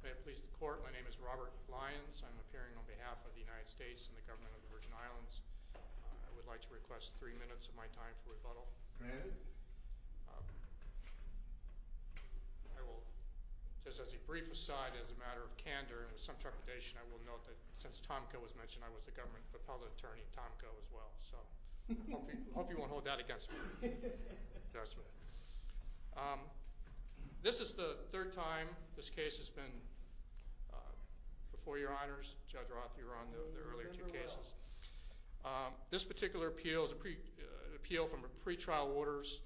May it please the court, my name is Robert Lyons. I'm appearing on behalf of the United States and the government of the Virgin Islands. I would like to request three minutes of my time for rebuttal. I will, just as a brief aside, as a matter of candor and with some trepidation, I will note that since Tomko was mentioned, I was the government appellate attorney at Tomko as well, so I hope you won't hold that against me. This is the third time this case has been before your honors. Judge Roth, you were on the earlier two cases. This particular appeal is an appeal from pre-trial orders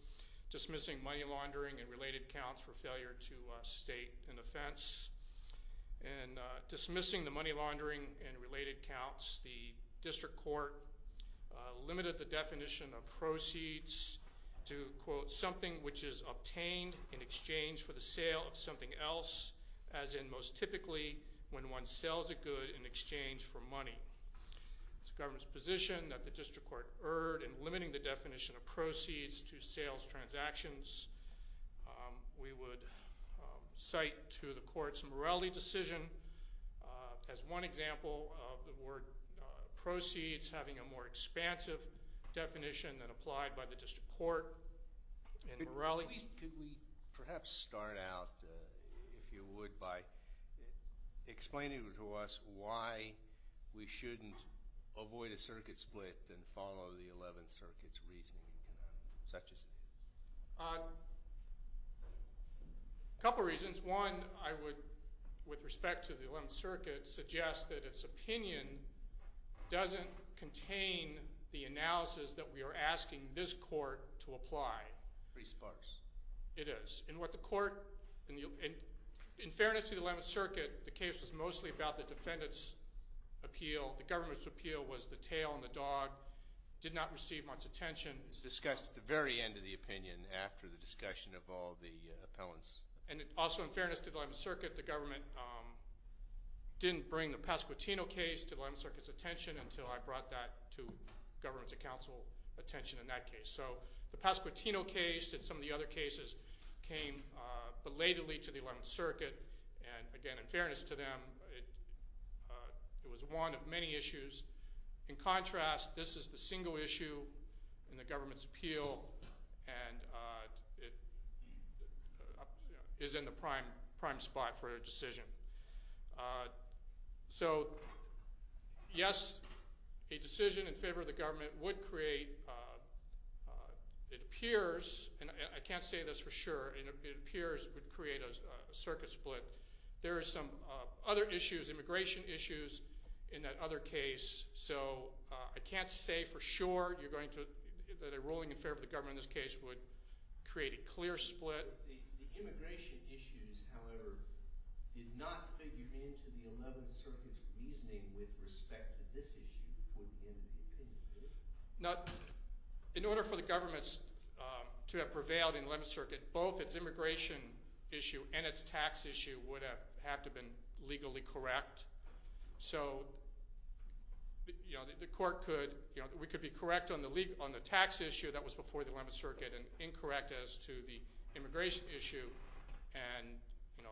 dismissing money laundering and related counts for failure to state an offense. In dismissing the money to quote something which is obtained in exchange for the sale of something else, as in most typically when one sells a good in exchange for money. It's the government's position that the district court erred in limiting the definition of proceeds to sales transactions. We would cite to the court's morality decision as one example of the word proceeds having a more expansive definition than applied by the district court in morality. Could we perhaps start out, if you would, by explaining to us why we shouldn't avoid a circuit split and follow the Eleventh Circuit's reasoning in connecting such a thing? A couple reasons. One, I would, with respect to the Eleventh Circuit, suggest that its contents contain the analysis that we are asking this court to apply. Pretty sparse. It is. In fairness to the Eleventh Circuit, the case was mostly about the defendant's appeal. The government's appeal was the tail on the dog. It did not receive much attention. It was discussed at the very end of the opinion after the discussion of all the appellants. Also, in fairness to the Eleventh Circuit, the government didn't bring the Pasquotino case to the Eleventh Circuit's attention until I brought that to government's and council's attention in that case. So the Pasquotino case and some of the other cases came belatedly to the Eleventh Circuit, and again, in fairness to them, it was one of many issues. In contrast, this is the single issue in the government's appeal, and it is in the prime spot for a decision. So, yes, a decision in favor of the government would create, it appears, and I can't say this for sure, it appears it would create a circuit split. There are some other issues, immigration issues, in that other case, so I can't say for sure that a ruling in favor of the government in this case would create a clear split. The immigration issues, however, did not figure into the Eleventh Circuit's reasoning with respect to this issue before the end of the opinion period? In order for the government to have prevailed in the Eleventh Circuit, both its immigration issue and its tax issue would have to have been legally correct. So, you know, the court could, you know, we could be correct on the tax issue that was before the Eleventh Circuit and incorrect as to the immigration issue, and, you know,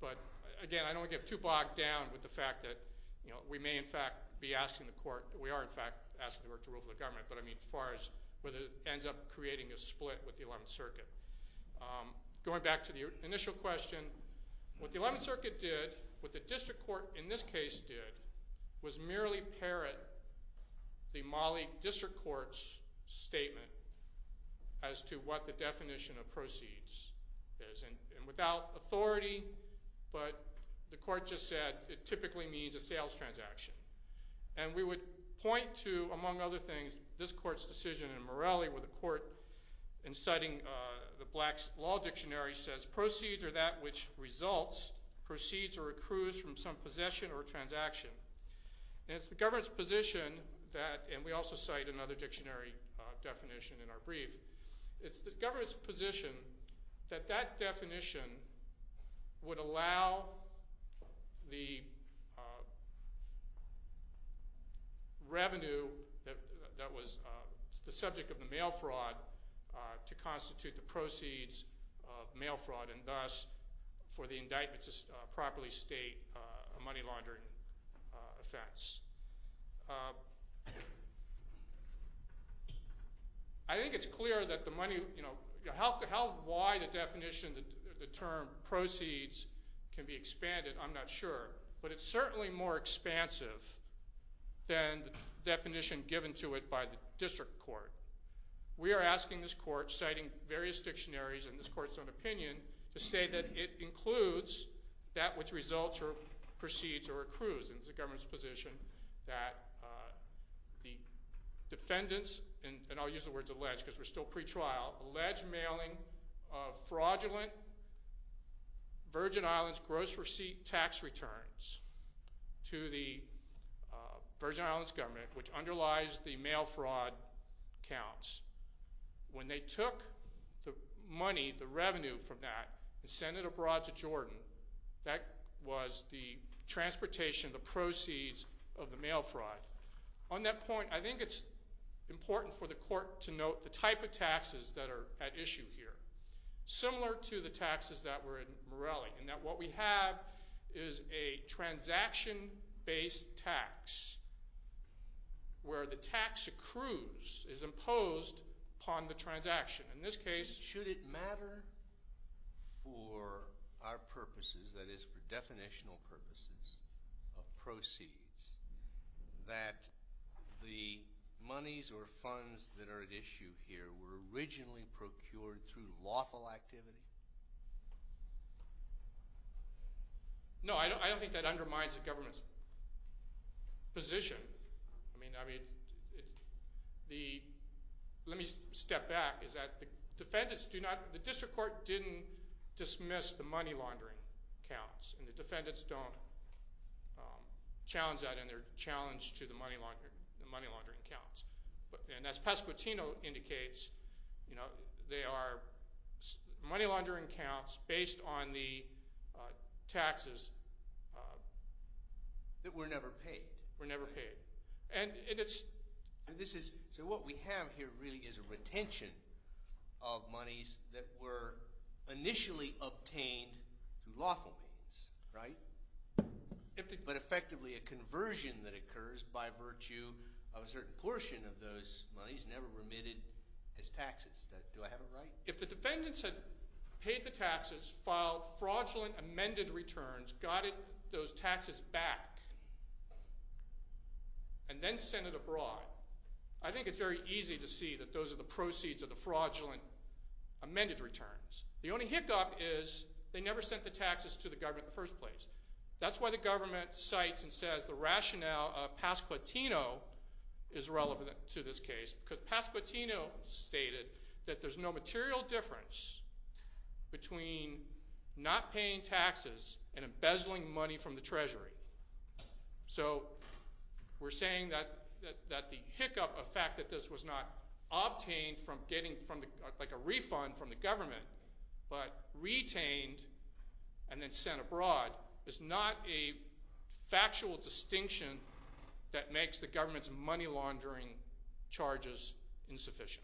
but again, I don't want to get too bogged down with the fact that, you know, we may in fact be asking the court, we are in fact asking the court to rule for the government, but I mean as far as whether it ends up creating a split with the Eleventh Circuit. Going back to the initial question, what the Eleventh Circuit did, what the district court in this case did, was merely parrot the Mali district court's statement as to what the authority, but the court just said it typically means a sales transaction. And we would point to, among other things, this court's decision in Morelli where the court, in citing the Black's Law Dictionary, says proceeds are that which results, proceeds or accrues from some possession or transaction. And it's the government's position that, and we also cite another dictionary definition in our brief, it's the government's position that that definition would allow the revenue that was the subject of the mail fraud to constitute the proceeds of mail fraud and thus for the indictment to properly state a money laundering offense. I think it's clear that the money, you know, how, why the definition, the term proceeds can be expanded, I'm not sure, but it's certainly more expansive than the definition given to it by the district court. We are asking this court, citing various dictionaries in this court's own opinion, to say that it includes that which results or proceeds or accrues. And it's the government's position that the defendants, and I'll use the words alleged because we're still pre-trial, alleged mailing of fraudulent Virgin Islands gross receipt tax returns to the Virgin Islands government, which underlies the mail fraud counts. When they took the money, the revenue from that, and sent it abroad to Jordan, that was the transportation, the proceeds of the mail fraud. On that point, I think it's important for the court to note the type of taxes that are at issue here, similar to the taxes that were in Morelli, in that what we have is a transaction-based tax where the tax accrues is imposed upon the transaction. In this case, should it matter for our purposes, that is for definitional purposes of proceeds, that the monies or funds that are at issue here were originally procured through lawful activity? No, I don't think that undermines the government's position. I mean, let me step back. The district court didn't dismiss the money laundering counts, and the defendants don't challenge that, and they're challenged to the money laundering counts. And as Pasquotino indicates, they are money laundering counts based on the taxes that were never paid. So what we have here really is a retention of monies that were initially obtained through lawful means, right? But effectively a conversion that occurs by virtue of a certain portion of those monies never remitted as taxes. Do I have it right? If the defendants had paid the taxes, filed fraudulent amended returns, got those taxes back, and then sent it abroad, I think it's very easy to see that those are the proceeds of the fraudulent amended returns. The only hiccup is they never sent the taxes to the government in the first place. That's why the government cites and says the rationale of Pasquotino is relevant to this case, because Pasquotino stated that there's no material difference between not paying taxes and embezzling money from the treasury. So we're saying that the hiccup of the fact that this was not obtained from getting a refund from the government, but retained and then sent abroad, is not a factual distinction that makes the government's money laundering charges insufficient.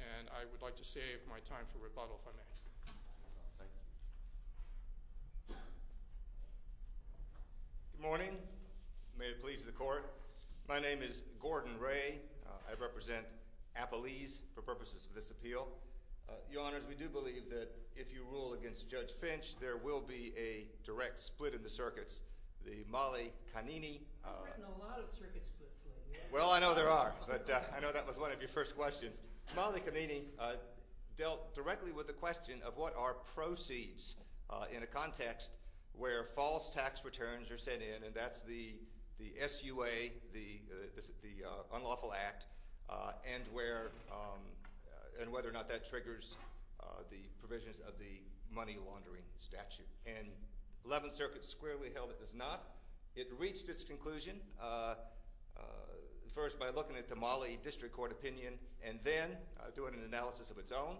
And I would like to save my time for rebuttal if I may. Thank you. Good morning. May it please the Court. My name is Gordon Ray. I represent Appalese for purposes of this appeal. Your Honors, we do believe that if you rule against Judge Finch, there will be a direct split in the circuits. The Mollie-Cannini— You've written a lot of circuit splits lately. Well, I know there are, but I know that was one of your first questions. Mollie-Cannini dealt directly with the question of what are proceeds in a context where false tax returns are sent in, and that's the SUA, the unlawful act, and whether or not that triggers the provisions of the money laundering statute. And the Eleventh Circuit squarely held it does not. It reached its conclusion first by looking at the Mollie District Court opinion and then doing an analysis of its own,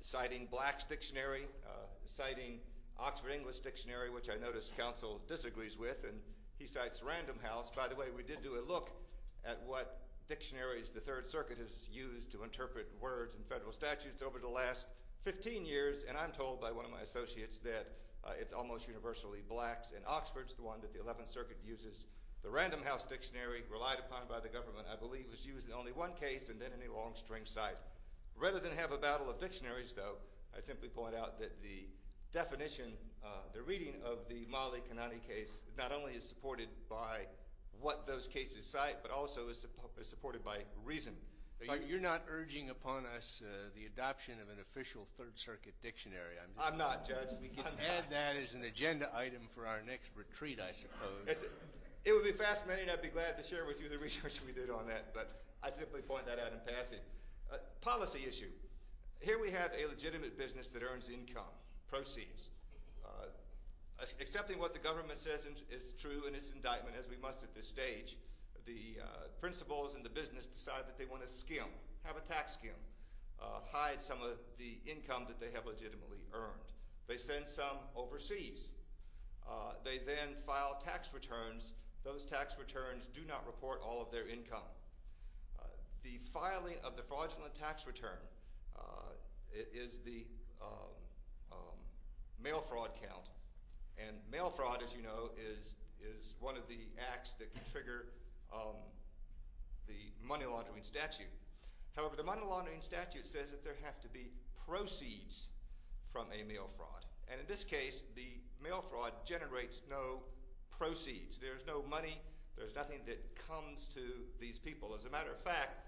citing Black's Dictionary, citing Oxford English Dictionary, which I noticed counsel disagrees with, and he cites Random House. By the way, we did do a look at what dictionaries the Third Circuit has used to interpret words in federal statutes over the last 15 years, and I'm told by one of my associates that it's almost universally Black's and Oxford's, the one that the Eleventh Circuit uses. The Random House Dictionary, relied upon by the government, I believe, was used in only one case and then in a long string cite. Rather than have a battle of dictionaries, though, I'd simply point out that the definition, the reading of the Mollie-Cannini case, not only is supported by what those cases cite, but also is supported by reason. You're not urging upon us the adoption of an official Third Circuit dictionary. I'm not, Judge. We can add that as an agenda item for our next retreat, I suppose. It would be fascinating. I'd be glad to share with you the research we did on that, but I simply point that out in passing. Policy issue. Here we have a legitimate business that earns income, proceeds. Accepting what the government says is true in its indictment, as we must at this stage, the principals in the business decide that they want to skim, have a tax skim, hide some of the income that they have legitimately earned. They send some overseas. They then file tax returns. Those tax returns do not report all of their income. The filing of the fraudulent tax return is the mail fraud count. And mail fraud, as you know, is one of the acts that can trigger the money laundering statute. However, the money laundering statute says that there have to be proceeds from a mail fraud. And in this case, the mail fraud generates no proceeds. There's no money. There's nothing that comes to these people. As a matter of fact,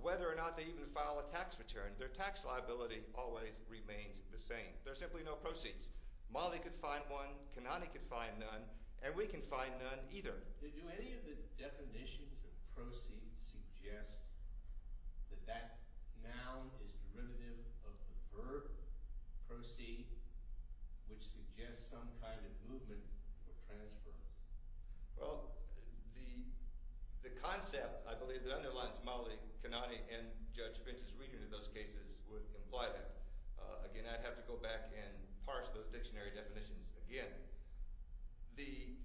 whether or not they even file a tax return, their tax liability always remains the same. There are simply no proceeds. Mawley could find one. Kanani could find none. And we can find none either. Do any of the definitions of proceeds suggest that that noun is derivative of the verb proceed, which suggests some kind of movement or transference? Well, the concept, I believe, that underlines Mawley, Kanani, and Judge Finch's reading of those cases would imply that. Again, I'd have to go back and parse those dictionary definitions again. The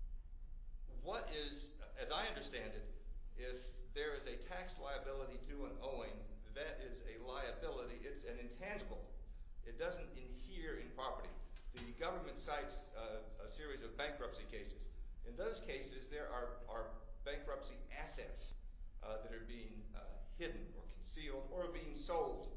– what is – as I understand it, if there is a tax liability to an owing, that is a liability. It's an intangible. It doesn't adhere in property. The government cites a series of bankruptcy cases. In those cases, there are bankruptcy assets that are being hidden or concealed or being sold.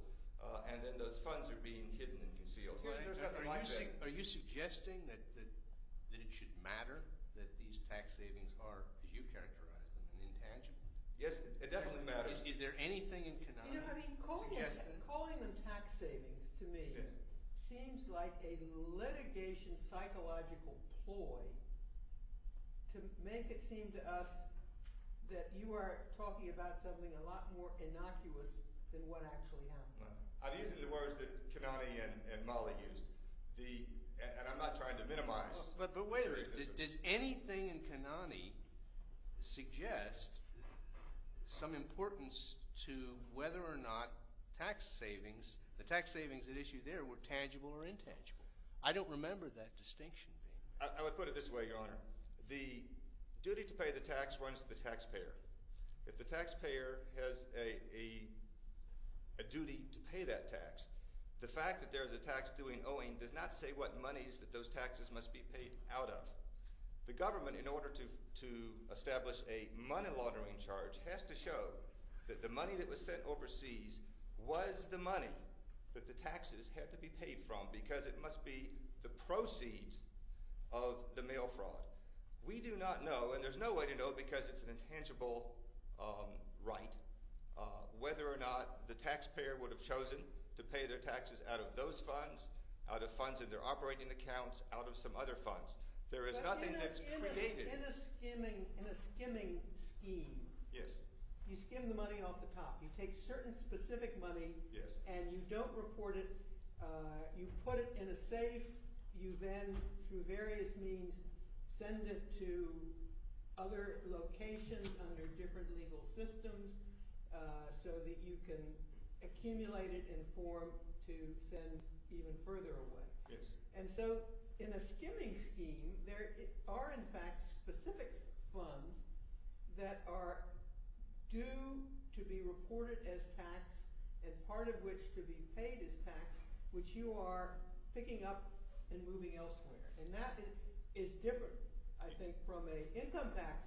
And then those funds are being hidden and concealed. Are you suggesting that it should matter that these tax savings are, as you characterize them, an intangible? Yes, it definitely matters. Is there anything in Kanani that suggests that? Calling them tax savings to me seems like a litigation psychological ploy to make it seem to us that you are talking about something a lot more innocuous than what actually happened. I'm using the words that Kanani and Mawley used. And I'm not trying to minimize the seriousness of it. But wait a minute. Does anything in Kanani suggest some importance to whether or not tax savings – the tax savings at issue there were tangible or intangible? I don't remember that distinction being made. I would put it this way, Your Honor. The duty to pay the tax runs to the taxpayer. If the taxpayer has a duty to pay that tax, the fact that there is a tax doing owing does not say what monies that those taxes must be paid out of. The government, in order to establish a money laundering charge, has to show that the money that was sent overseas was the money that the taxes had to be paid from because it must be the proceeds of the mail fraud. We do not know, and there's no way to know because it's an intangible right, whether or not the taxpayer would have chosen to pay their taxes out of those funds, out of funds in their operating accounts, out of some other funds. There is nothing that's created. But in a skimming scheme, you skim the money off the top. You take certain specific money and you don't report it. You put it in a safe. You then, through various means, send it to other locations under different legal systems so that you can accumulate it in form to send even further away. And so in a skimming scheme, there are in fact specific funds that are due to be reported as tax and part of which to be paid as tax, which you are picking up and moving elsewhere. And that is different, I think, from an income tax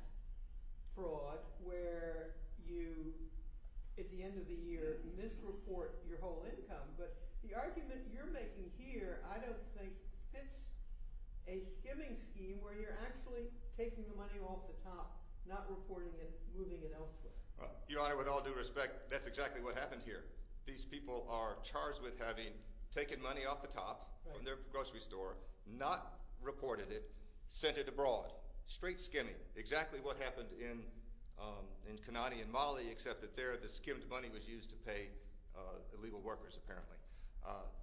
fraud where you, at the end of the year, misreport your whole income. But the argument you're making here I don't think fits a skimming scheme where you're actually taking the money off the top, not reporting it, moving it elsewhere. Your Honor, with all due respect, that's exactly what happened here. These people are charged with having taken money off the top from their grocery store, not reported it, sent it abroad. Straight skimming. Exactly what happened in Kanani and Mali except that there the skimmed money was used to pay illegal workers apparently.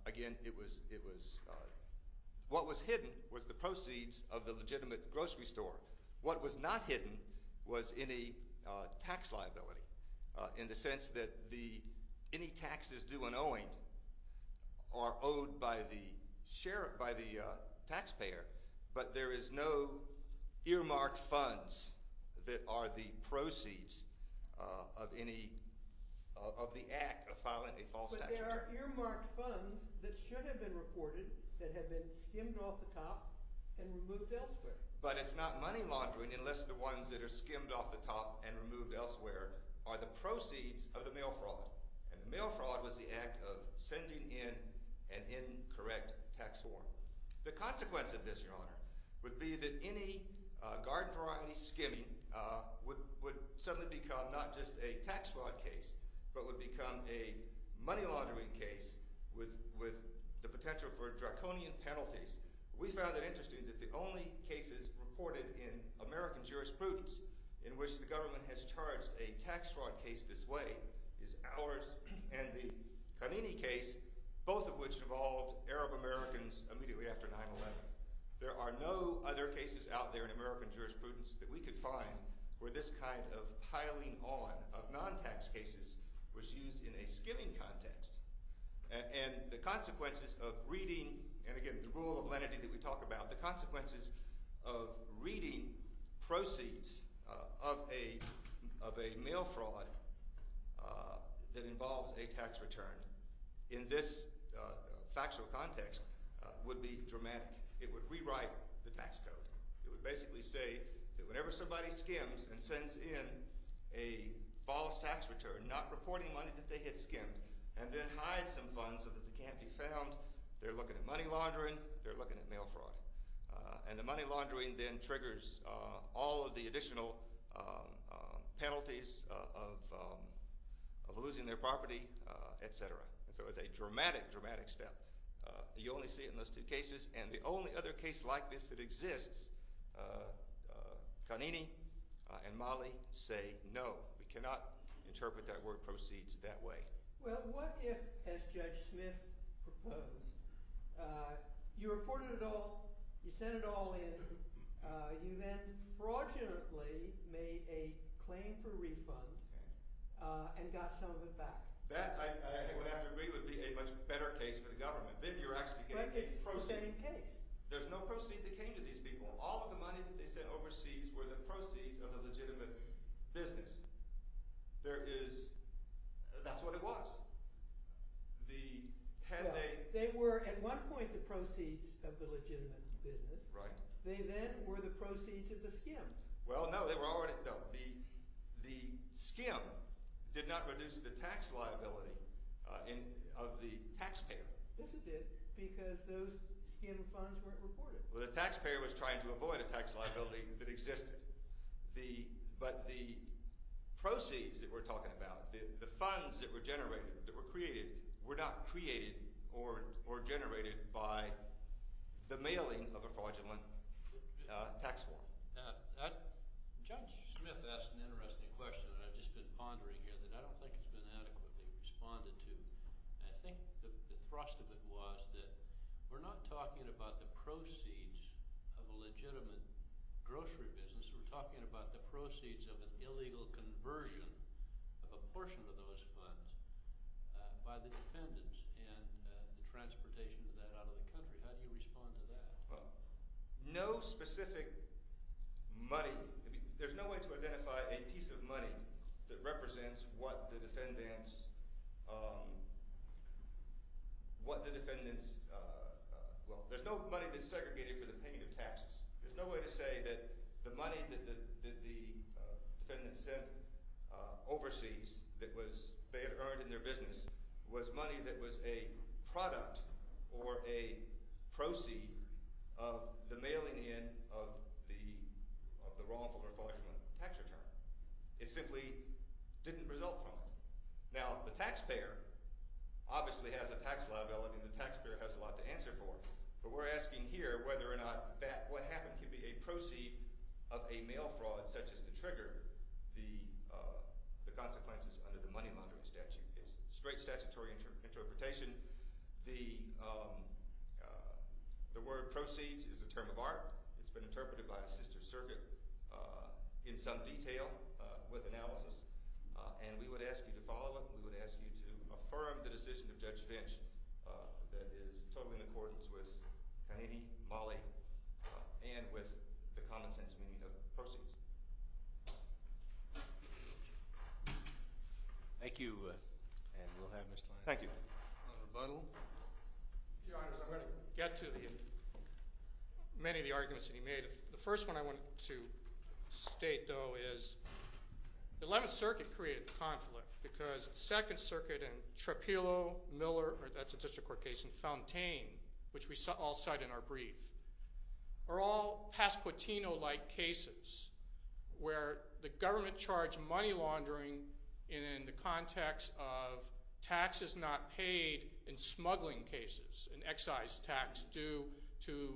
Again, it was – what was hidden was the proceeds of the legitimate grocery store. What was not hidden was any tax liability in the sense that the – any taxes due and owing are owed by the share – by the taxpayer. But there is no earmarked funds that are the proceeds of any – of the act of filing a false tax return. But there are earmarked funds that should have been reported that have been skimmed off the top and removed elsewhere. But it's not money laundering unless the ones that are skimmed off the top and removed elsewhere are the proceeds of the mail fraud. And the mail fraud was the act of sending in an incorrect tax form. The consequence of this, Your Honor, would be that any guard variety skimming would suddenly become not just a tax fraud case but would become a money laundering case with the potential for draconian penalties. We found it interesting that the only cases reported in American jurisprudence in which the government has charged a tax fraud case this way is ours and the Kanani case, both of which involved Arab-Americans immediately after 9-11. There are no other cases out there in American jurisprudence that we could find where this kind of piling on of non-tax cases was used in a skimming context. And the consequences of reading – and again, the rule of lenity that we talk about – the consequences of reading proceeds of a mail fraud that involves a tax return in this factual context would be dramatic. It would rewrite the tax code. It would basically say that whenever somebody skims and sends in a false tax return not reporting money that they had skimmed and then hides some funds so that they can't be found, they're looking at money laundering, they're looking at mail fraud. And the money laundering then triggers all of the additional penalties of losing their property, etc. And so it's a dramatic, dramatic step. You only see it in those two cases. And the only other case like this that exists, Kanani and Mali say no. We cannot interpret that word proceeds that way. Well, what if, as Judge Smith proposed, you reported it all, you sent it all in, you then fraudulently made a claim for refund and got some of it back? That, I would have to agree, would be a much better case for the government. But it's the same case. There's no proceed that came to these people. All of the money that they sent overseas were the proceeds of the legitimate business. There is – that's what it was. They were at one point the proceeds of the legitimate business. Right. They then were the proceeds of the skim. Well, no, they were already – no, the skim did not reduce the tax liability of the taxpayer. Yes, it did because those skim funds weren't reported. Well, the taxpayer was trying to avoid a tax liability that existed. But the proceeds that we're talking about, the funds that were generated, that were created, were not created or generated by the mailing of a fraudulent tax form. Judge Smith asked an interesting question that I've just been pondering here that I don't think has been adequately responded to. And I think the thrust of it was that we're not talking about the proceeds of a legitimate grocery business. We're talking about the proceeds of an illegal conversion of a portion of those funds by the defendants and the transportation of that out of the country. How do you respond to that? Well, no specific money – there's no way to identify a piece of money that represents what the defendants – what the defendants – well, there's no money that's segregated for the payment of taxes. There's no way to say that the money that the defendants sent overseas that was – they had earned in their business was money that was a product or a proceed of the mailing in of the wrongful or fraudulent tax return. It simply didn't result from it. Now, the taxpayer obviously has a tax law available, and the taxpayer has a lot to answer for. But we're asking here whether or not that – what happened could be a proceed of a mail fraud such as to trigger the consequences under the money laundering statute. It's straight statutory interpretation. The word proceeds is a term of art. It's been interpreted by a sister circuit in some detail with analysis. And we would ask you to follow it, and we would ask you to affirm the decision of Judge Finch that is totally in accordance with Kennedy, Malley, and with the common sense meaning of proceeds. Thank you, and we'll have Mr. Lane. Thank you. Mr. Butler. Your Honors, I'm going to get to the – many of the arguments that he made. The first one I wanted to state, though, is the 11th Circuit created the conflict because 2nd Circuit and Trepillo, Miller – that's a district court case – and Fontaine, which we all cite in our brief, are all Pasquotino-like cases where the government charged money laundering in the context of taxes not paid in smuggling cases, an excise tax due to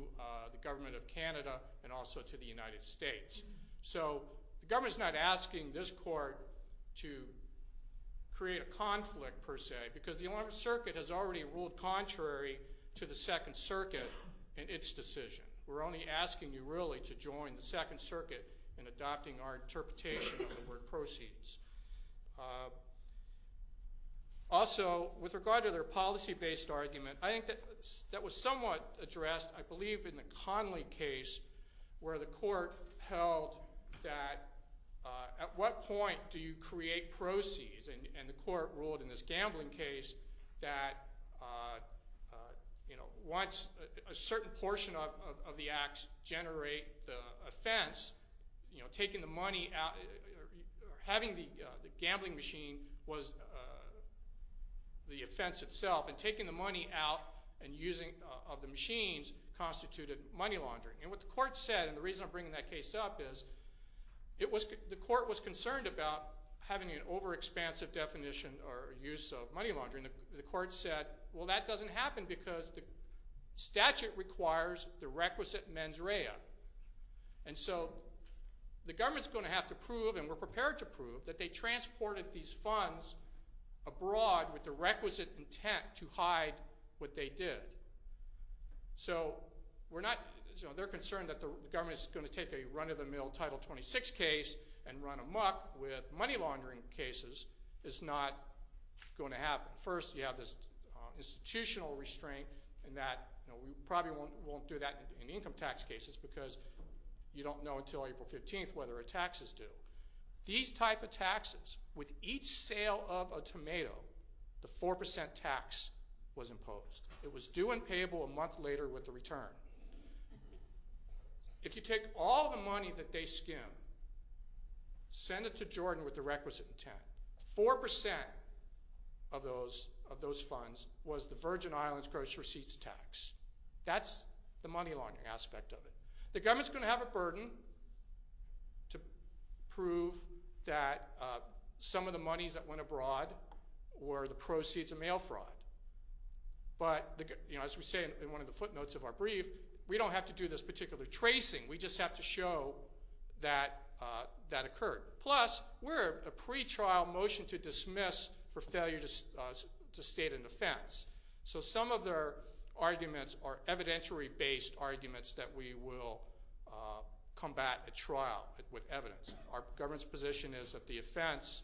the government of Canada and also to the United States. So the government's not asking this court to create a conflict, per se, because the 11th Circuit has already ruled contrary to the 2nd Circuit in its decision. We're only asking you, really, to join the 2nd Circuit in adopting our interpretation of the word proceeds. Also, with regard to their policy-based argument, I think that was somewhat addressed, I believe, in the Conley case where the court held that at what point do you create proceeds? And the court ruled in this gambling case that once a certain portion of the acts generate the offense, taking the money out – or having the gambling machine was the offense itself. And taking the money out and using – of the machines constituted money laundering. And what the court said – and the reason I'm bringing that case up is the court was concerned about having an overexpansive definition or use of money laundering. The court said, well, that doesn't happen because the statute requires the requisite mens rea. And so the government's going to have to prove, and we're prepared to prove, that they transported these funds abroad with the requisite intent to hide what they did. So we're not – they're concerned that the government is going to take a run-of-the-mill Title 26 case and run amok with money laundering cases. It's not going to happen. First, you have this institutional restraint in that we probably won't do that in income tax cases because you don't know until April 15th whether a tax is due. These type of taxes, with each sale of a tomato, the 4% tax was imposed. It was due and payable a month later with the return. If you take all the money that they skim, send it to Jordan with the requisite intent, 4% of those funds was the Virgin Islands gross receipts tax. That's the money laundering aspect of it. The government's going to have a burden to prove that some of the monies that went abroad were the proceeds of mail fraud. But, as we say in one of the footnotes of our brief, we don't have to do this particular tracing. We just have to show that that occurred. Plus, we're a pretrial motion to dismiss for failure to state an offense. So some of their arguments are evidentiary-based arguments that we will combat at trial with evidence. Our government's position is that the offense,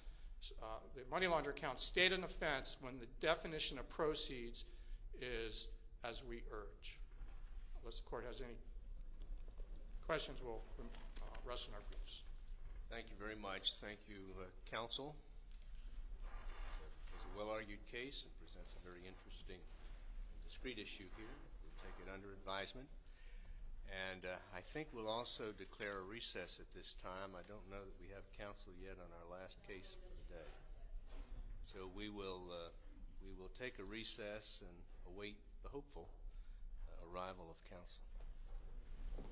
the money launderer account stayed an offense when the definition of proceeds is as we urge. Unless the court has any questions, we'll wrestle in our briefs. Thank you very much. Thank you, counsel. It's a well-argued case. It presents a very interesting discrete issue here. We'll take it under advisement. And I think we'll also declare a recess at this time. I don't know that we have counsel yet on our last case for the day. So we will take a recess and await the hopeful arrival of counsel.